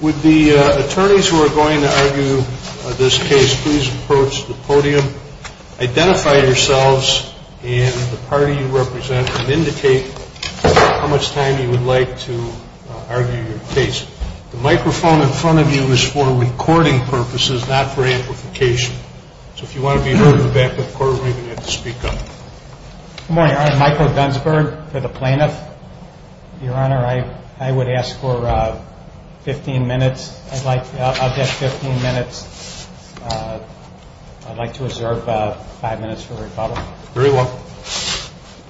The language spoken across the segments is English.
Would the attorneys who are going to argue this case please approach the podium, identify yourselves and the party you represent and indicate how much time you would like to argue your case. The microphone in front of you is for recording purposes, not for amplification. So if you want to be heard in the back of the court, we're going to have to speak up. Good morning, I'm Michael Gunsberg for the plaintiff. Your Honor, I would ask for 15 minutes. I'll get 15 minutes. I'd like to reserve 5 minutes for rebuttal. Very well.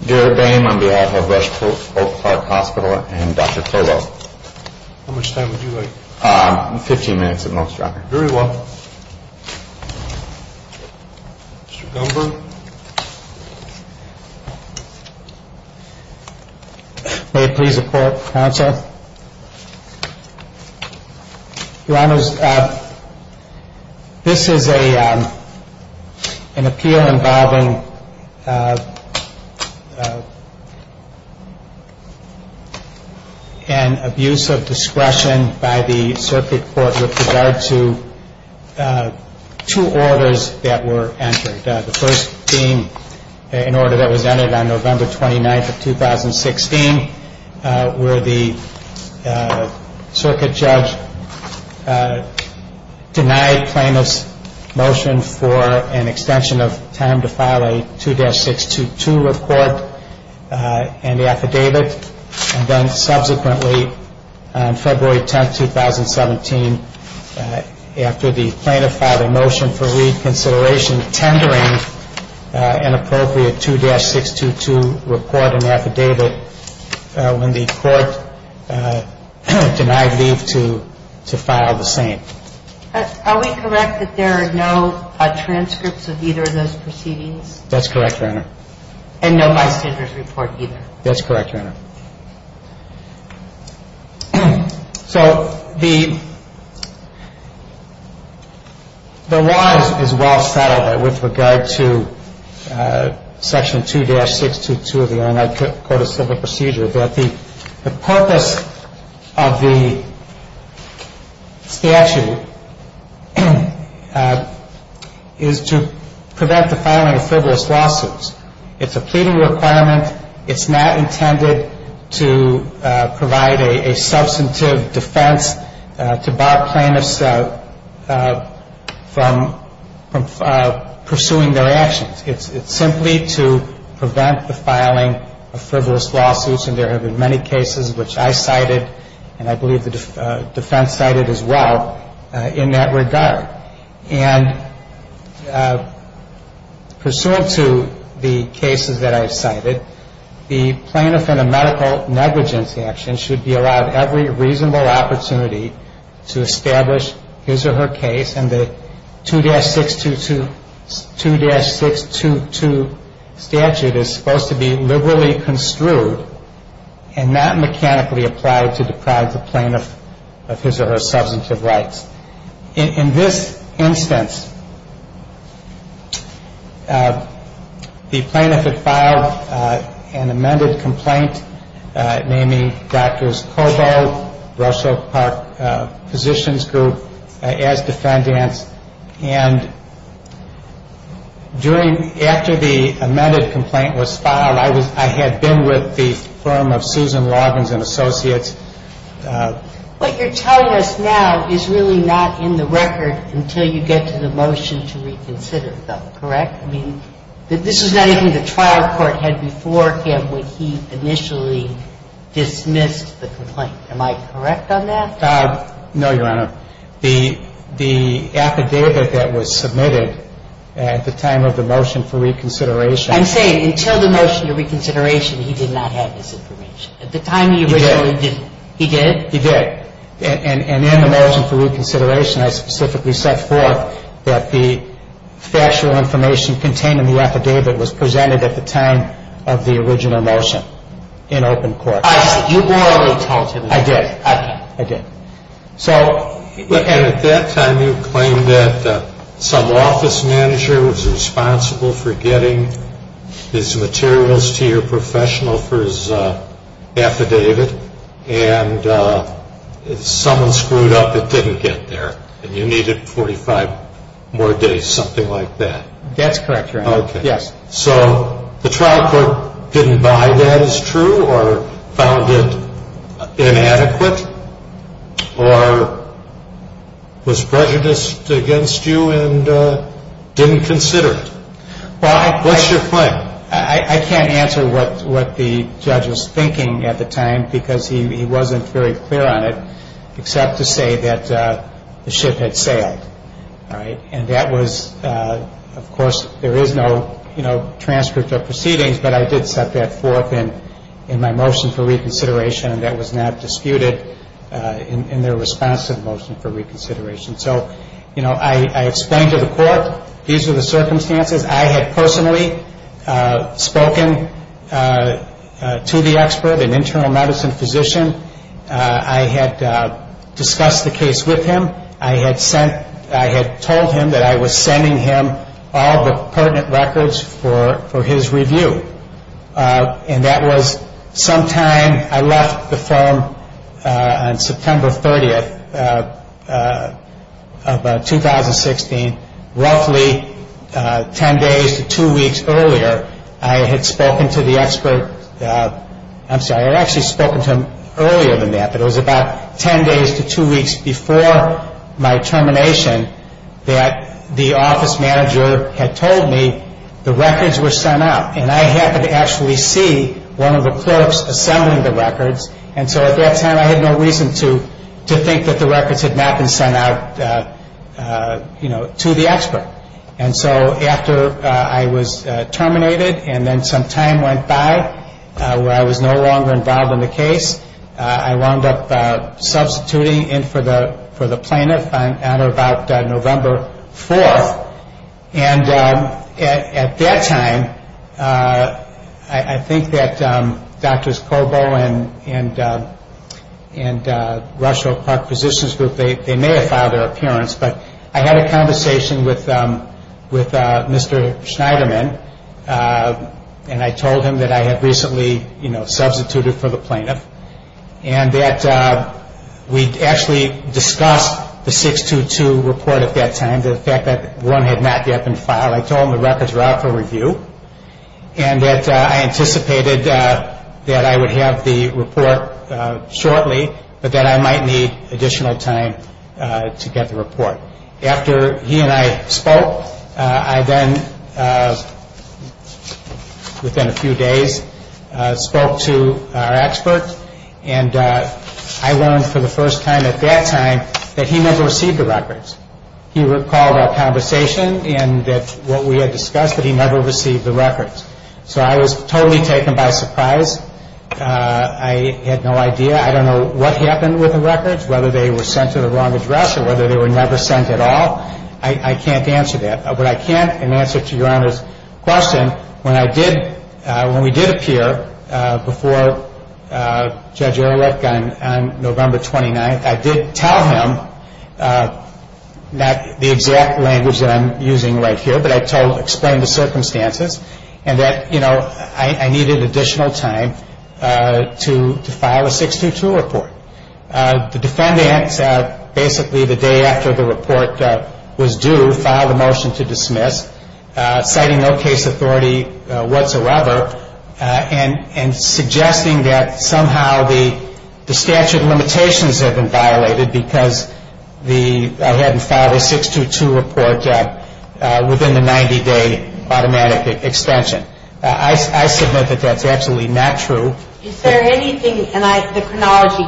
Gerard Boehm on behalf of Rush Oak Park Hospital and Dr. Colo. How much time would you like? 15 minutes at most, Your Honor. Very well. Mr. Gunsberg. May it please the court, counsel. Your Honor, this is an appeal involving an abuse of discretion by the circuit court with regard to two orders that were entered. The first being an order that was entered on November 29th of 2016 where the circuit judge denied plaintiff's motion for an extension of time to file a 2-622 report and affidavit. And then subsequently on February 10th, 2017, after the plaintiff filed a motion for reconsideration, tendering an appropriate 2-622 report and affidavit when the court denied leave to file the same. Are we correct that there are no transcripts of either of those proceedings? That's correct, Your Honor. And no bystanders report either? That's correct, Your Honor. So the law is well settled with regard to Section 2-622 of the Illinois Code of Civil Procedure that the purpose of the statute is to prevent the filing of frivolous lawsuits. It's a pleading requirement. It's not intended to provide a substantive defense to bar plaintiffs from pursuing their actions. It's simply to prevent the filing of frivolous lawsuits, and there have been many cases which I cited and I believe the defense cited as well in that regard. And pursuant to the cases that I've cited, the plaintiff in a medical negligence action should be allowed every reasonable opportunity to establish his or her case. And the 2-622 statute is supposed to be liberally construed and not mechanically applied to deprive the plaintiff of his or her substantive rights. In this instance, the plaintiff had filed an amended complaint naming Drs. Kobo, Rochelle Park Physicians Group, as defendants. And during, after the amended complaint was filed, I had been with the firm of Susan Loggins and Associates. And with the preoccupy that this entire thing fell into place, I would hold that thus, her case would remain and not be delivered. So this is, excuse me, 胆 ou're telling us now isn't really not in the record until you get to the motion to reconsider, though, correct? I mean, this is not anything the trial court had before him when he initially dismissed the complaint. Am I correct on that? No, Your Honor. The affidavit that was submitted at the time of the motion for reconsideration I'm saying until the motion to reconsideration, he did not have this information. At the time, he originally did. He did? He did. And in the motion for reconsideration, I specifically set forth that the factual information contained in the affidavit was presented at the time of the original motion in open court. I see. You already told him. I did. I did. At that time, you claimed that some office manager was responsible for getting his materials to your professional for his affidavit. And if someone screwed up, it didn't get there. And you needed 45 more days, something like that. That's correct, Your Honor. Okay. Yes. So the trial court didn't buy that as true or found it inadequate or was prejudiced against you and didn't consider it? What's your claim? I can't answer what the judge was thinking at the time because he wasn't very clear on it except to say that the ship had sailed. And that was, of course, there is no transcript of proceedings, but I did set that forth in my motion for reconsideration, and that was not disputed in their response to the motion for reconsideration. So I explained to the court these were the circumstances. I had personally spoken to the expert, an internal medicine physician. I had discussed the case with him. I had told him that I was sending him all the pertinent records for his review. And that was sometime, I left the firm on September 30th of 2016, roughly 10 days to 2 weeks earlier. I had spoken to the expert. I'm sorry, I had actually spoken to him earlier than that, but it was about 10 days to 2 weeks before my termination that the office manager had told me the records were sent out. And I happened to actually see one of the clerks assembling the records, and so at that time I had no reason to think that the records had not been sent out to the expert. And so after I was terminated and then some time went by where I was no longer involved in the case, I wound up substituting in for the plaintiff on or about November 4th. And at that time, I think that Drs. Kobo and Rush Oak Park Physicians Group, they may have filed their appearance, but I had a conversation with Mr. Schneiderman, and I told him that I had recently substituted for the plaintiff. And that we actually discussed the 622 report at that time, and the fact that one had not yet been filed. I told him the records were out for review, and that I anticipated that I would have the report shortly, but that I might need additional time to get the report. After he and I spoke, I then, within a few days, spoke to our expert, and I learned for the first time at that time that he never received the records. He recalled our conversation and that what we had discussed, that he never received the records. So I was totally taken by surprise. I had no idea. I don't know what happened with the records, whether they were sent to the wrong address or whether they were never sent at all. I can't answer that. But I can answer to Your Honor's question. When we did appear before Judge Ehrlich on November 29th, I did tell him, not the exact language that I'm using right here, but I explained the circumstances and that I needed additional time to file a 622 report. The defendant, basically the day after the report was due, filed a motion to dismiss, citing no case authority whatsoever and suggesting that somehow the statute of limitations had been violated because I hadn't filed a 622 report within the 90-day automatic extension. I submit that that's absolutely not true. Is there anything, and the chronology,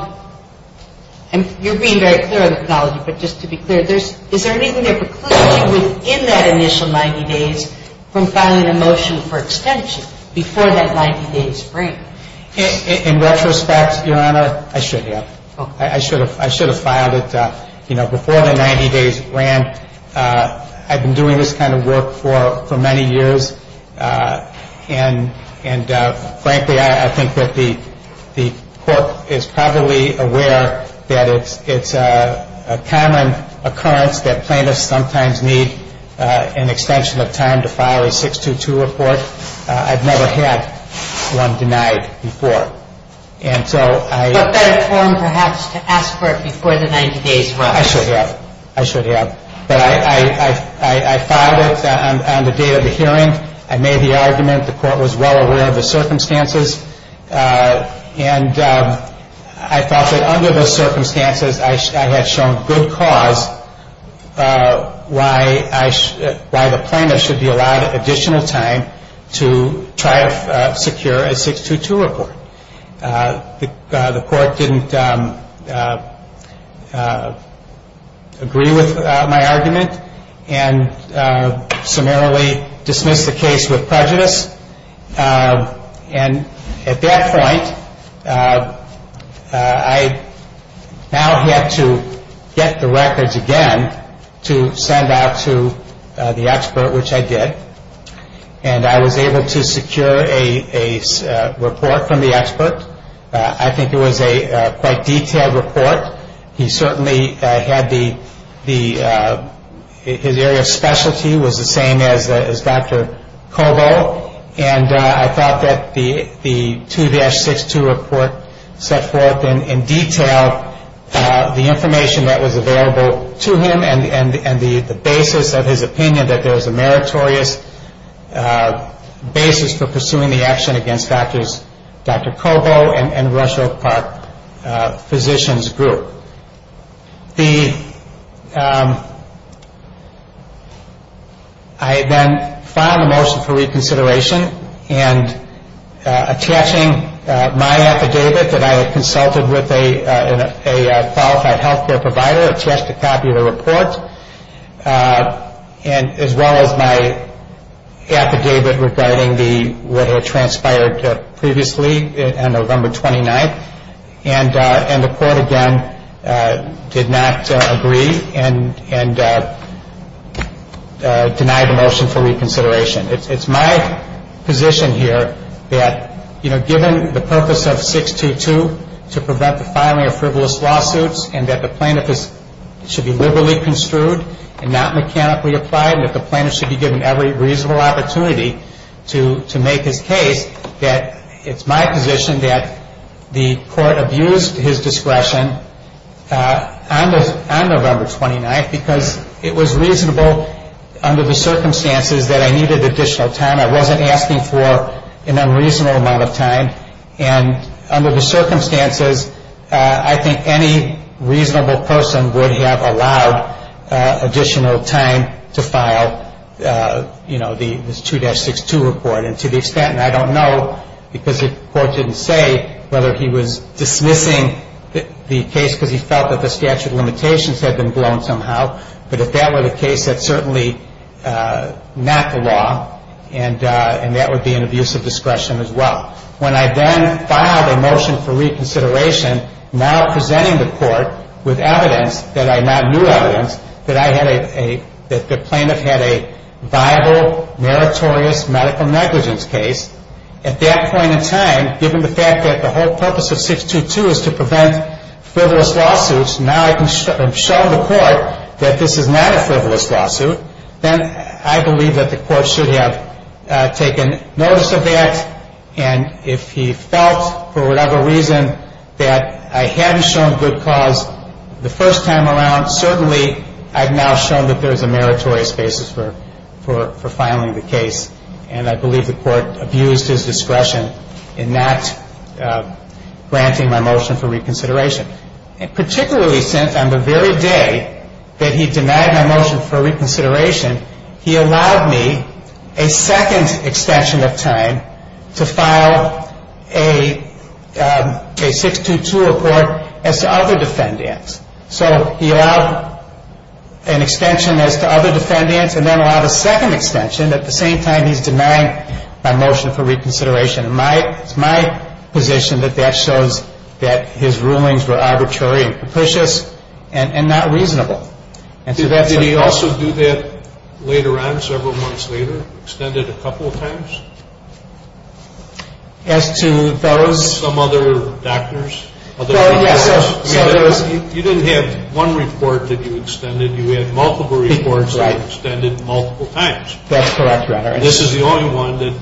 and you're being very clear on the chronology, but just to be clear, is there anything that precludes you within that initial 90 days from filing a motion for extension before that 90 days break? In retrospect, Your Honor, I should have. I should have filed it, you know, before the 90 days ran. I've been doing this kind of work for many years. And, frankly, I think that the Court is probably aware that it's a common occurrence that plaintiffs sometimes need an extension of time to file a 622 report. I've never had one denied before. And so I… But better form, perhaps, to ask for it before the 90 days run. I should have. I should have. But I filed it on the date of the hearing. I made the argument. The Court was well aware of the circumstances. And I thought that under those circumstances I had shown good cause why the plaintiff should be allowed additional time to try to secure a 622 report. The Court didn't agree with my argument and summarily dismissed the case with prejudice. And at that point, I now had to get the records again to send out to the expert, which I did. And I was able to secure a report from the expert. I think it was a quite detailed report. He certainly had the – his area of specialty was the same as Dr. Cobo. And I thought that the 2-62 report set forth in detail the information that was available to him and the basis of his opinion that there was a meritorious basis for pursuing the action against Dr. Cobo and Rush Oak Park Physicians Group. The – I then filed a motion for reconsideration. And attaching my affidavit that I had consulted with a qualified health care provider, attached a copy of the report, as well as my affidavit regarding the – what had transpired previously on November 29th. And the Court, again, did not agree and denied the motion for reconsideration. It's my position here that, you know, given the purpose of 622 to prevent the filing of frivolous lawsuits and that the plaintiff should be liberally construed and not mechanically applied and that the plaintiff should be given every reasonable opportunity to make his case, that it's my position that the Court abused his discretion on November 29th because it was reasonable under the circumstances that I needed additional time. I wasn't asking for an unreasonable amount of time. And under the circumstances, I think any reasonable person would have allowed additional time to file, you know, this 2-62 report. And to the extent – and I don't know because the Court didn't say whether he was dismissing the case because he felt that the statute of limitations had been blown somehow. But if that were the case, that's certainly not the law. And that would be an abuse of discretion as well. When I then filed a motion for reconsideration, now presenting the Court with evidence that I now knew evidence that I had a – that the plaintiff had a viable meritorious medical negligence case, at that point in time, given the fact that the whole purpose of 622 is to prevent frivolous lawsuits, now I can show the Court that this is not a frivolous lawsuit, then I believe that the Court should have taken notice of that. And if he felt for whatever reason that I hadn't shown good cause the first time around, certainly I've now shown that there's a meritorious basis for filing the case. And I believe the Court abused his discretion in not granting my motion for reconsideration. And particularly since on the very day that he denied my motion for reconsideration, he allowed me a second extension of time to file a 622 report as to other defendants. So he allowed an extension as to other defendants and then allowed a second extension at the same time he's denying my motion for reconsideration. It's my position that that shows that his rulings were arbitrary and capricious and not reasonable. And so that's a – Did he also do that later on, several months later? Extended a couple of times? As to those – Some other doctors? Well, yes. You didn't have one report that you extended. You had multiple reports that you extended multiple times. That's correct, Your Honor. And this is the only one that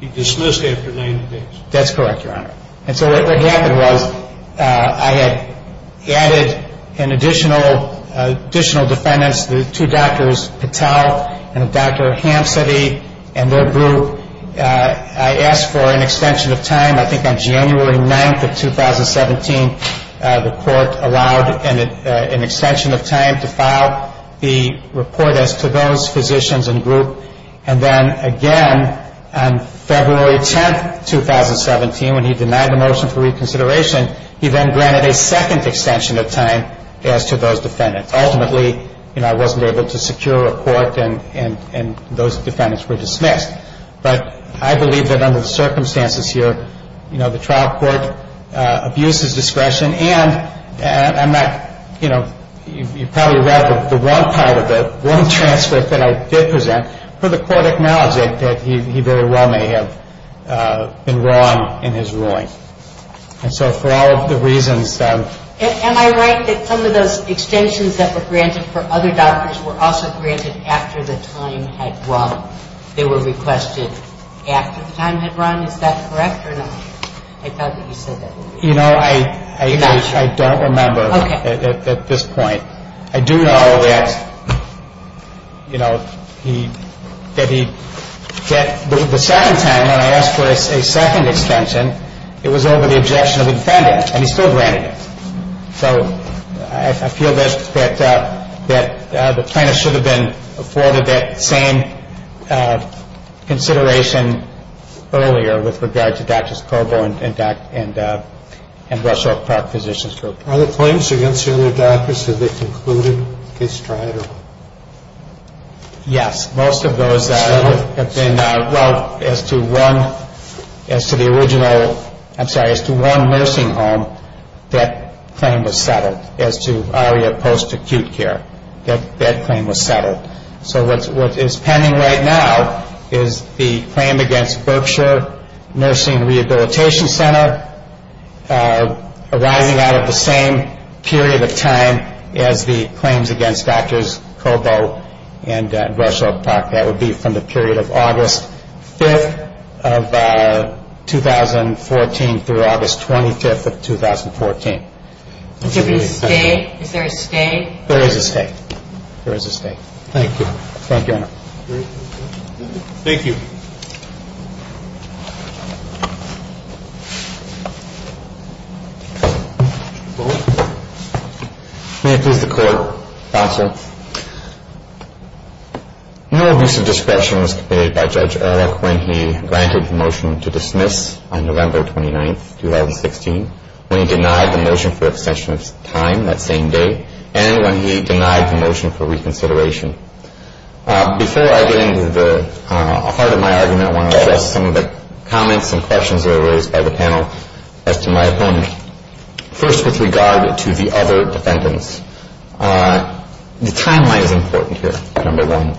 he dismissed after 90 days. That's correct, Your Honor. And so what happened was I had added an additional defendants, the two doctors, Patel and Dr. Hampsteady and their group. I asked for an extension of time. I think on January 9th of 2017, the Court allowed an extension of time to file the report as to those physicians and group. And then, again, on February 10th, 2017, when he denied the motion for reconsideration, he then granted a second extension of time as to those defendants. Ultimately, you know, I wasn't able to secure a report and those defendants were dismissed. But I believe that under the circumstances here, you know, the trial court abused his discretion. And I'm not, you know, you probably read the wrong part of it, wrong transcript that I did present. But the Court acknowledged that he very well may have been wrong in his ruling. And so for all of the reasons. Am I right that some of those extensions that were granted for other doctors were also granted after the time had run? They were requested after the time had run? Is that correct or no? I thought that you said that. You know, I don't remember at this point. I do know that, you know, the second time when I asked for a second extension, it was over the objection of the defendant and he still granted it. So I feel that the plaintiff should have been afforded that same consideration earlier with regard to Drs. Cobo and Rush Oak Park Physicians Group. Are the claims against the other doctors, have they concluded? Case tried? Yes. Most of those have been, well, as to one, as to the original, I'm sorry, as to one nursing home, that claim was settled as to post-acute care. That claim was settled. So what is pending right now is the claim against Berkshire Nursing Rehabilitation Center arising out of the same period of time as the claims against Drs. Cobo and Rush Oak Park. That would be from the period of August 5th of 2014 through August 25th of 2014. Is there a stay? There is a stay. There is a stay. Thank you. Thank you, Your Honor. Thank you. May it please the Court. Counsel. No abuse of discretion was committed by Judge Ehrlich when he granted the motion to dismiss on November 29th, 2016, when he denied the motion for extension of time that same day, and when he denied the motion for reconsideration. Before I get into the heart of my argument, I want to address some of the comments and questions that were raised by the panel as to my opponent. First, with regard to the other defendants, the timeline is important here, number one.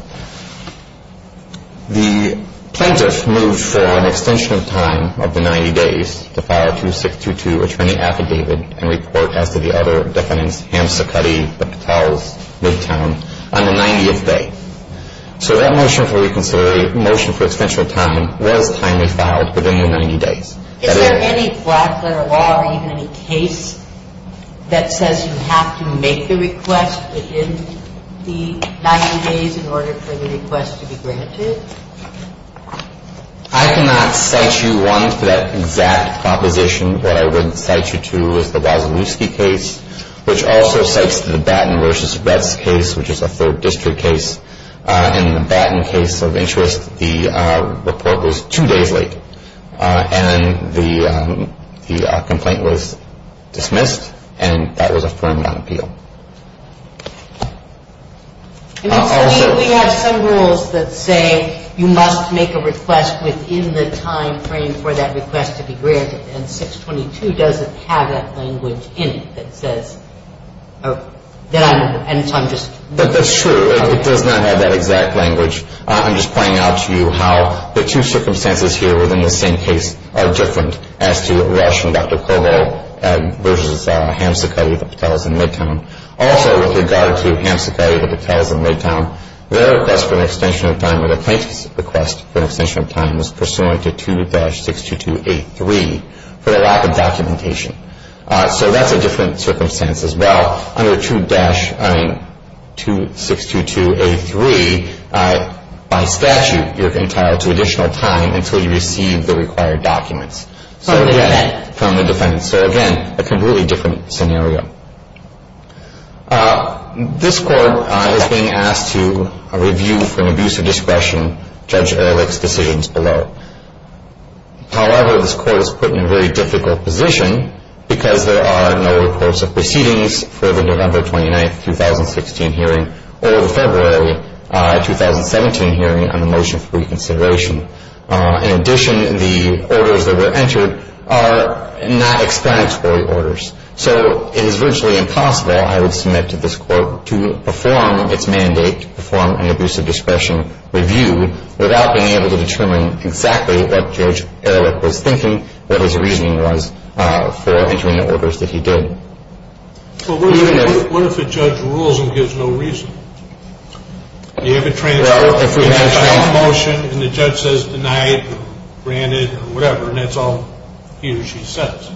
The plaintiff moved for an extension of time of the 90 days to file a 2622 attorney affidavit and report as to the other defendants, Hamm, Cicutti, Patels, Midtown, on the 90th day. So that motion for reconsideration, motion for extension of time, was timely filed within the 90 days. Is there any black letter law or even any case that says you have to make the request within the 90 days in order for the request to be granted? I cannot cite you, one, for that exact proposition. What I would cite you to is the Wasilewski case, which also cites the Batten v. Retz case, which is a third district case, and the Batten case of interest. The report was two days late, and the complaint was dismissed, and that was affirmed on appeal. We have some rules that say you must make a request within the timeframe for that request to be granted, and 622 doesn't have that language in it that says, that I'm just. But that's true. It does not have that exact language. I'm just pointing out to you how the two circumstances here within the same case are different as to Walsh v. Dr. Cobo v. Hamsecutty v. Patels in Midtown. Also, with regard to Hamsecutty v. Patels in Midtown, their request for an extension of time or the plaintiff's request for an extension of time was pursuant to 2-622A3 for the lack of documentation. So that's a different circumstance as well. Under 2-622A3, by statute, you're entitled to additional time until you receive the required documents from the defendant. So, again, a completely different scenario. This Court is being asked to review for an abuse of discretion Judge Ehrlich's decisions below. However, this Court is put in a very difficult position because there are no reports of proceedings for the November 29, 2016 hearing or the February 2017 hearing on the motion for reconsideration. In addition, the orders that were entered are not explanatory orders. So it is virtually impossible, I would submit to this Court, to perform its mandate, to perform an abuse of discretion review without being able to determine exactly what Judge Ehrlich was thinking, what his reasoning was for between the orders that he did. Well, what if a judge rules and gives no reason? Well, if we have a motion and the judge says, deny it or grant it or whatever, and that's all he or she says,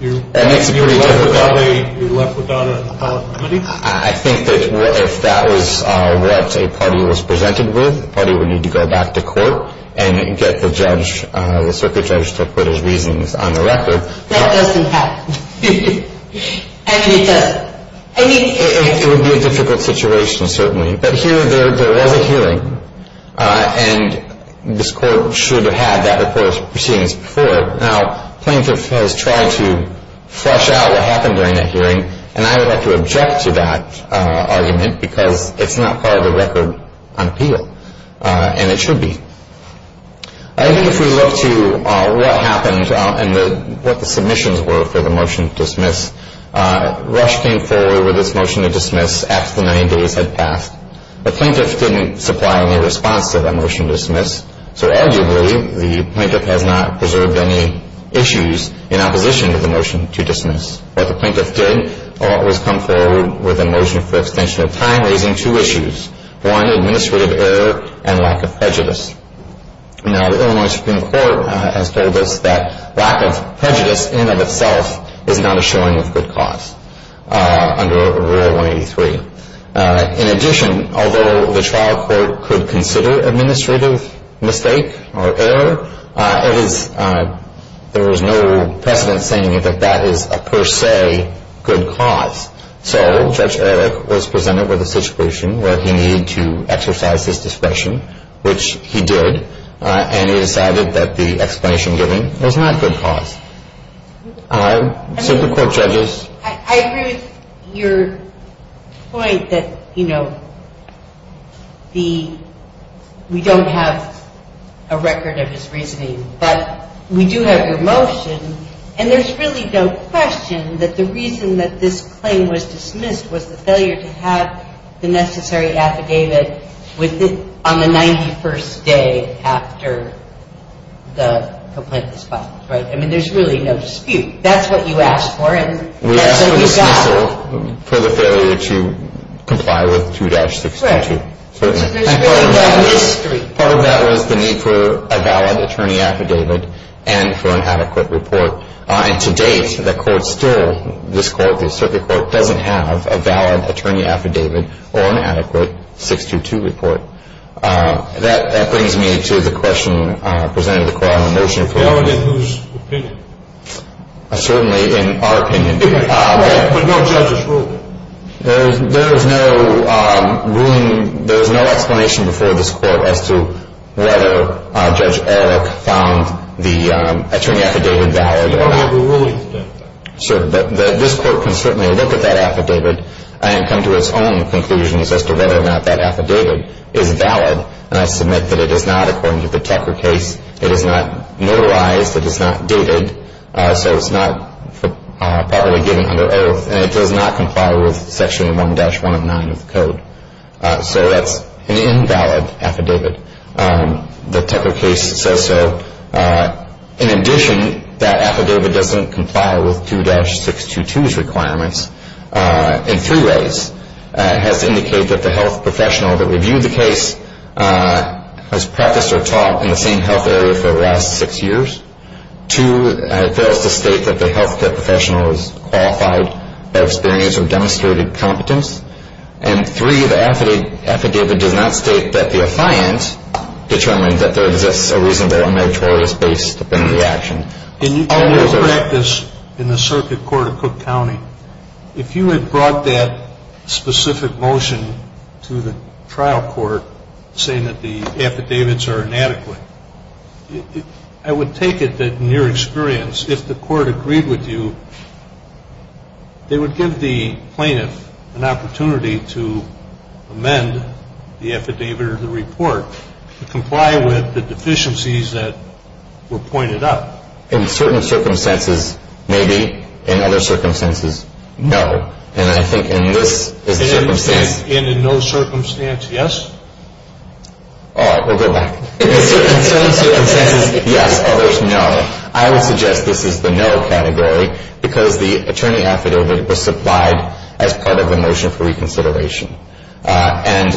you're left without a remedy? I think that if that was what a party was presented with, the party would need to go back to court and get the circuit judge to put his reasons on the record. That doesn't happen. I mean, it doesn't. It would be a difficult situation, certainly. But here, there was a hearing, and this Court should have had that report of proceedings before it. Now, plaintiff has tried to flesh out what happened during that hearing, and I would have to object to that argument because it's not part of the record on appeal, and it should be. I think if we look to what happened and what the submissions were for the motion to dismiss, Rush came forward with this motion to dismiss after the 90 days had passed. The plaintiff didn't supply any response to that motion to dismiss, so arguably the plaintiff has not preserved any issues in opposition to the motion to dismiss. What the plaintiff did was come forward with a motion for extension of time, raising two issues. One, administrative error and lack of prejudice. Now, the Illinois Supreme Court has told us that lack of prejudice in and of itself is not a showing of good cause under Rule 183. In addition, although the trial court could consider administrative mistake or error, there was no precedent saying that that is a per se good cause. So Judge Eric was presented with a situation where he needed to exercise his discretion, which he did, and he decided that the explanation given was not good cause. Supreme Court judges. I agree with your point that, you know, we don't have a record of his reasoning, but we do have your motion, and there's really no question that the reason that this claim was dismissed was the failure to have the necessary affidavit on the 91st day after the complaint was filed, right? I mean, there's really no dispute. That's what you asked for, and that's what you got. We asked for dismissal for the failure to comply with 2-622. Right. So there's really no mystery. Part of that was the need for a valid attorney affidavit and for an adequate report. And to date, the court still, this court, the circuit court, doesn't have a valid attorney affidavit or an adequate 622 report. That brings me to the question presented to the Court on the motion. It's a valid affidavit, but that doesn't mean that there are no judges who are going to be able to make a decision. Well, that would be in whose opinion? Certainly in our opinion. But no judges ruled it? There's no ruling. There's no explanation before this Court as to whether Judge Eric found the attorney affidavit valid. But not the ruling to do that? Sir, this Court can certainly look at that affidavit and come to its own conclusions as to whether or not that affidavit is valid. And I submit that it is not, according to the Tucker case. It is not notarized. It is not dated. So it's not properly given under oath, and it does not comply with Section 1-109 of the Code. So that's an invalid affidavit. The Tucker case says so. In addition, that affidavit doesn't comply with 2-622's requirements in three ways. It has to indicate that the health professional that reviewed the case has practiced or taught in the same health area for the last six years. Two, it fails to state that the health care professional is qualified, had experience, or demonstrated competence. And three, the affidavit does not state that the affiant determined that there exists a reasonable and notorious basis in the action. In your practice in the Circuit Court of Cook County, if you had brought that specific motion to the trial court, saying that the affidavits are inadequate, I would take it that, in your experience, if the court agreed with you, they would give the plaintiff an opportunity to amend the affidavit or the report to comply with the deficiencies that were pointed out. In certain circumstances, maybe. In other circumstances, no. And I think in this is the circumstance. And in no circumstance, yes? All right. We'll go back. In certain circumstances, yes. Others, no. I would suggest this is the no category, because the attorney affidavit was supplied as part of the motion for reconsideration. And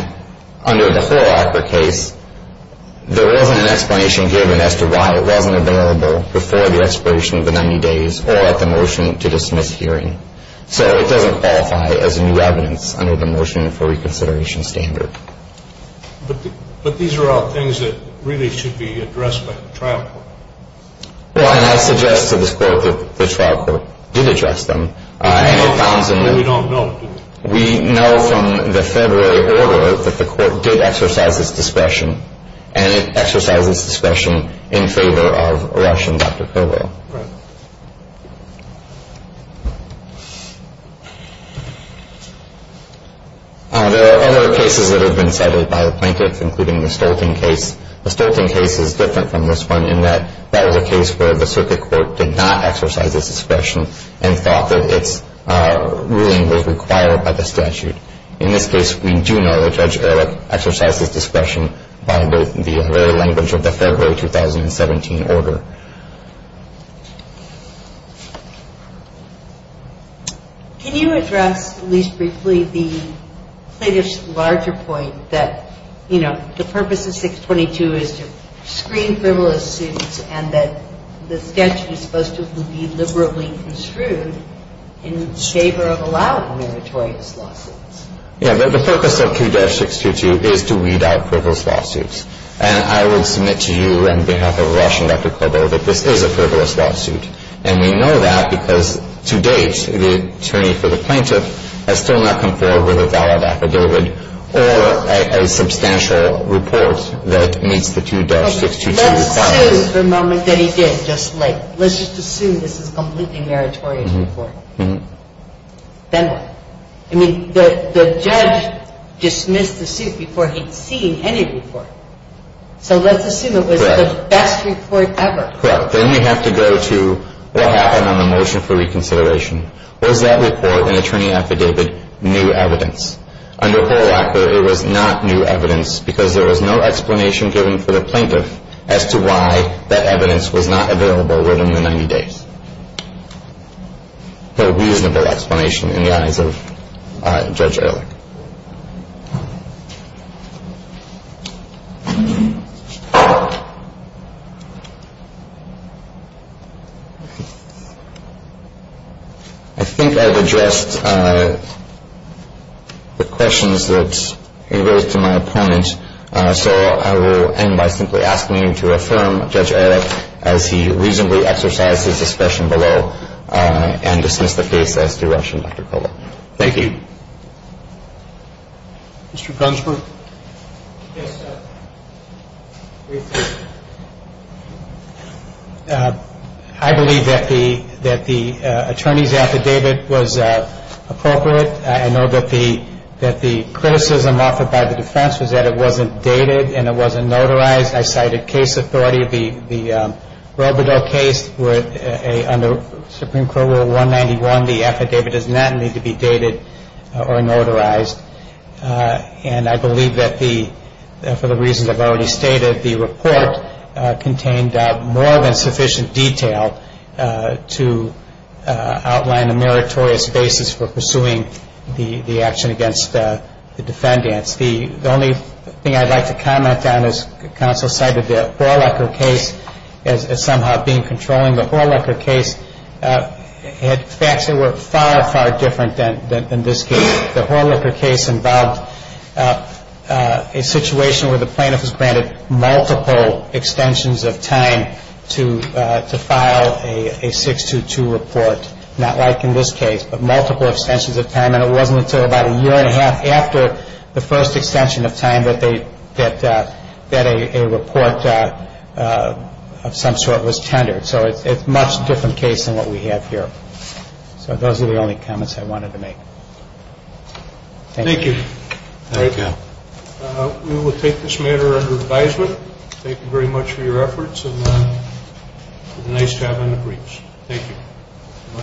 under the whole offer case, there wasn't an explanation given as to why it wasn't available before the expiration of the 90 days or at the motion to dismiss hearing. So it doesn't qualify as new evidence under the motion for reconsideration standard. But these are all things that really should be addressed by the trial court. Well, and I suggest to this court that the trial court did address them. We don't know. We know from the February order that the court did exercise its discretion, and it exercised its discretion in favor of Russian Dr. Kerber. Right. There are other cases that have been cited by the plaintiffs, including the Stolten case. The Stolten case is different from this one in that that is a case where the circuit court did not exercise its discretion and thought that its ruling was required by the statute. In this case, we do know that Judge Erlich exercised his discretion by the very language of the February 2017 order. Can you address, at least briefly, the plaintiff's larger point that, you know, the purpose of 622 is to screen criminal assaults and that the statute is supposed to be liberally construed in favor of allowing meritorious lawsuits? Yeah. The focus of 2-622 is to weed out frivolous lawsuits. And I would submit to you on behalf of Russian Dr. Kerber that this is a frivolous lawsuit. And we know that because, to date, the attorney for the plaintiff has still not come forward with a valid affidavit or a substantial report that meets the 2-622 requirements. This is the moment that he did, just like, let's just assume this is a completely meritorious report. Then what? I mean, the judge dismissed the suit before he'd seen any report. So let's assume it was the best report ever. Correct. Then we have to go to what happened on the motion for reconsideration. Was that report, an attorney affidavit, new evidence? Under Holwacker, it was not new evidence because there was no explanation given for the plaintiff as to why that evidence was not available within the 90 days. No reasonable explanation in the eyes of Judge Ehrlich. I think I've addressed the questions that arose to my opponent. So I will end by simply asking you to affirm, Judge Ehrlich, as he reasonably exercised his discretion below and dismissed the case as to Russian Dr. Kerber. Thank you. Mr. Brunsford. I believe that the attorney's affidavit was appropriate. I know that the criticism offered by the defense was that it wasn't dated and it wasn't notarized. I cited case authority. The Robledo case under Supreme Court Rule 191, the affidavit does not need to be dated or notarized. And I believe that for the reasons I've already stated, contained more than sufficient detail to outline a meritorious basis for pursuing the action against the defendants. The only thing I'd like to comment on is counsel cited the Holwacker case as somehow being controlling. The Holwacker case had facts that were far, far different than this case. The Holwacker case involved a situation where the plaintiff was granted multiple extensions of time to file a 622 report, not like in this case, but multiple extensions of time. And it wasn't until about a year and a half after the first extension of time that a report of some sort was tendered. So it's a much different case than what we have here. So those are the only comments I wanted to make. Thank you. Thank you. We will take this matter under advisement. Thank you very much for your efforts. It was nice having the briefs. Thank you.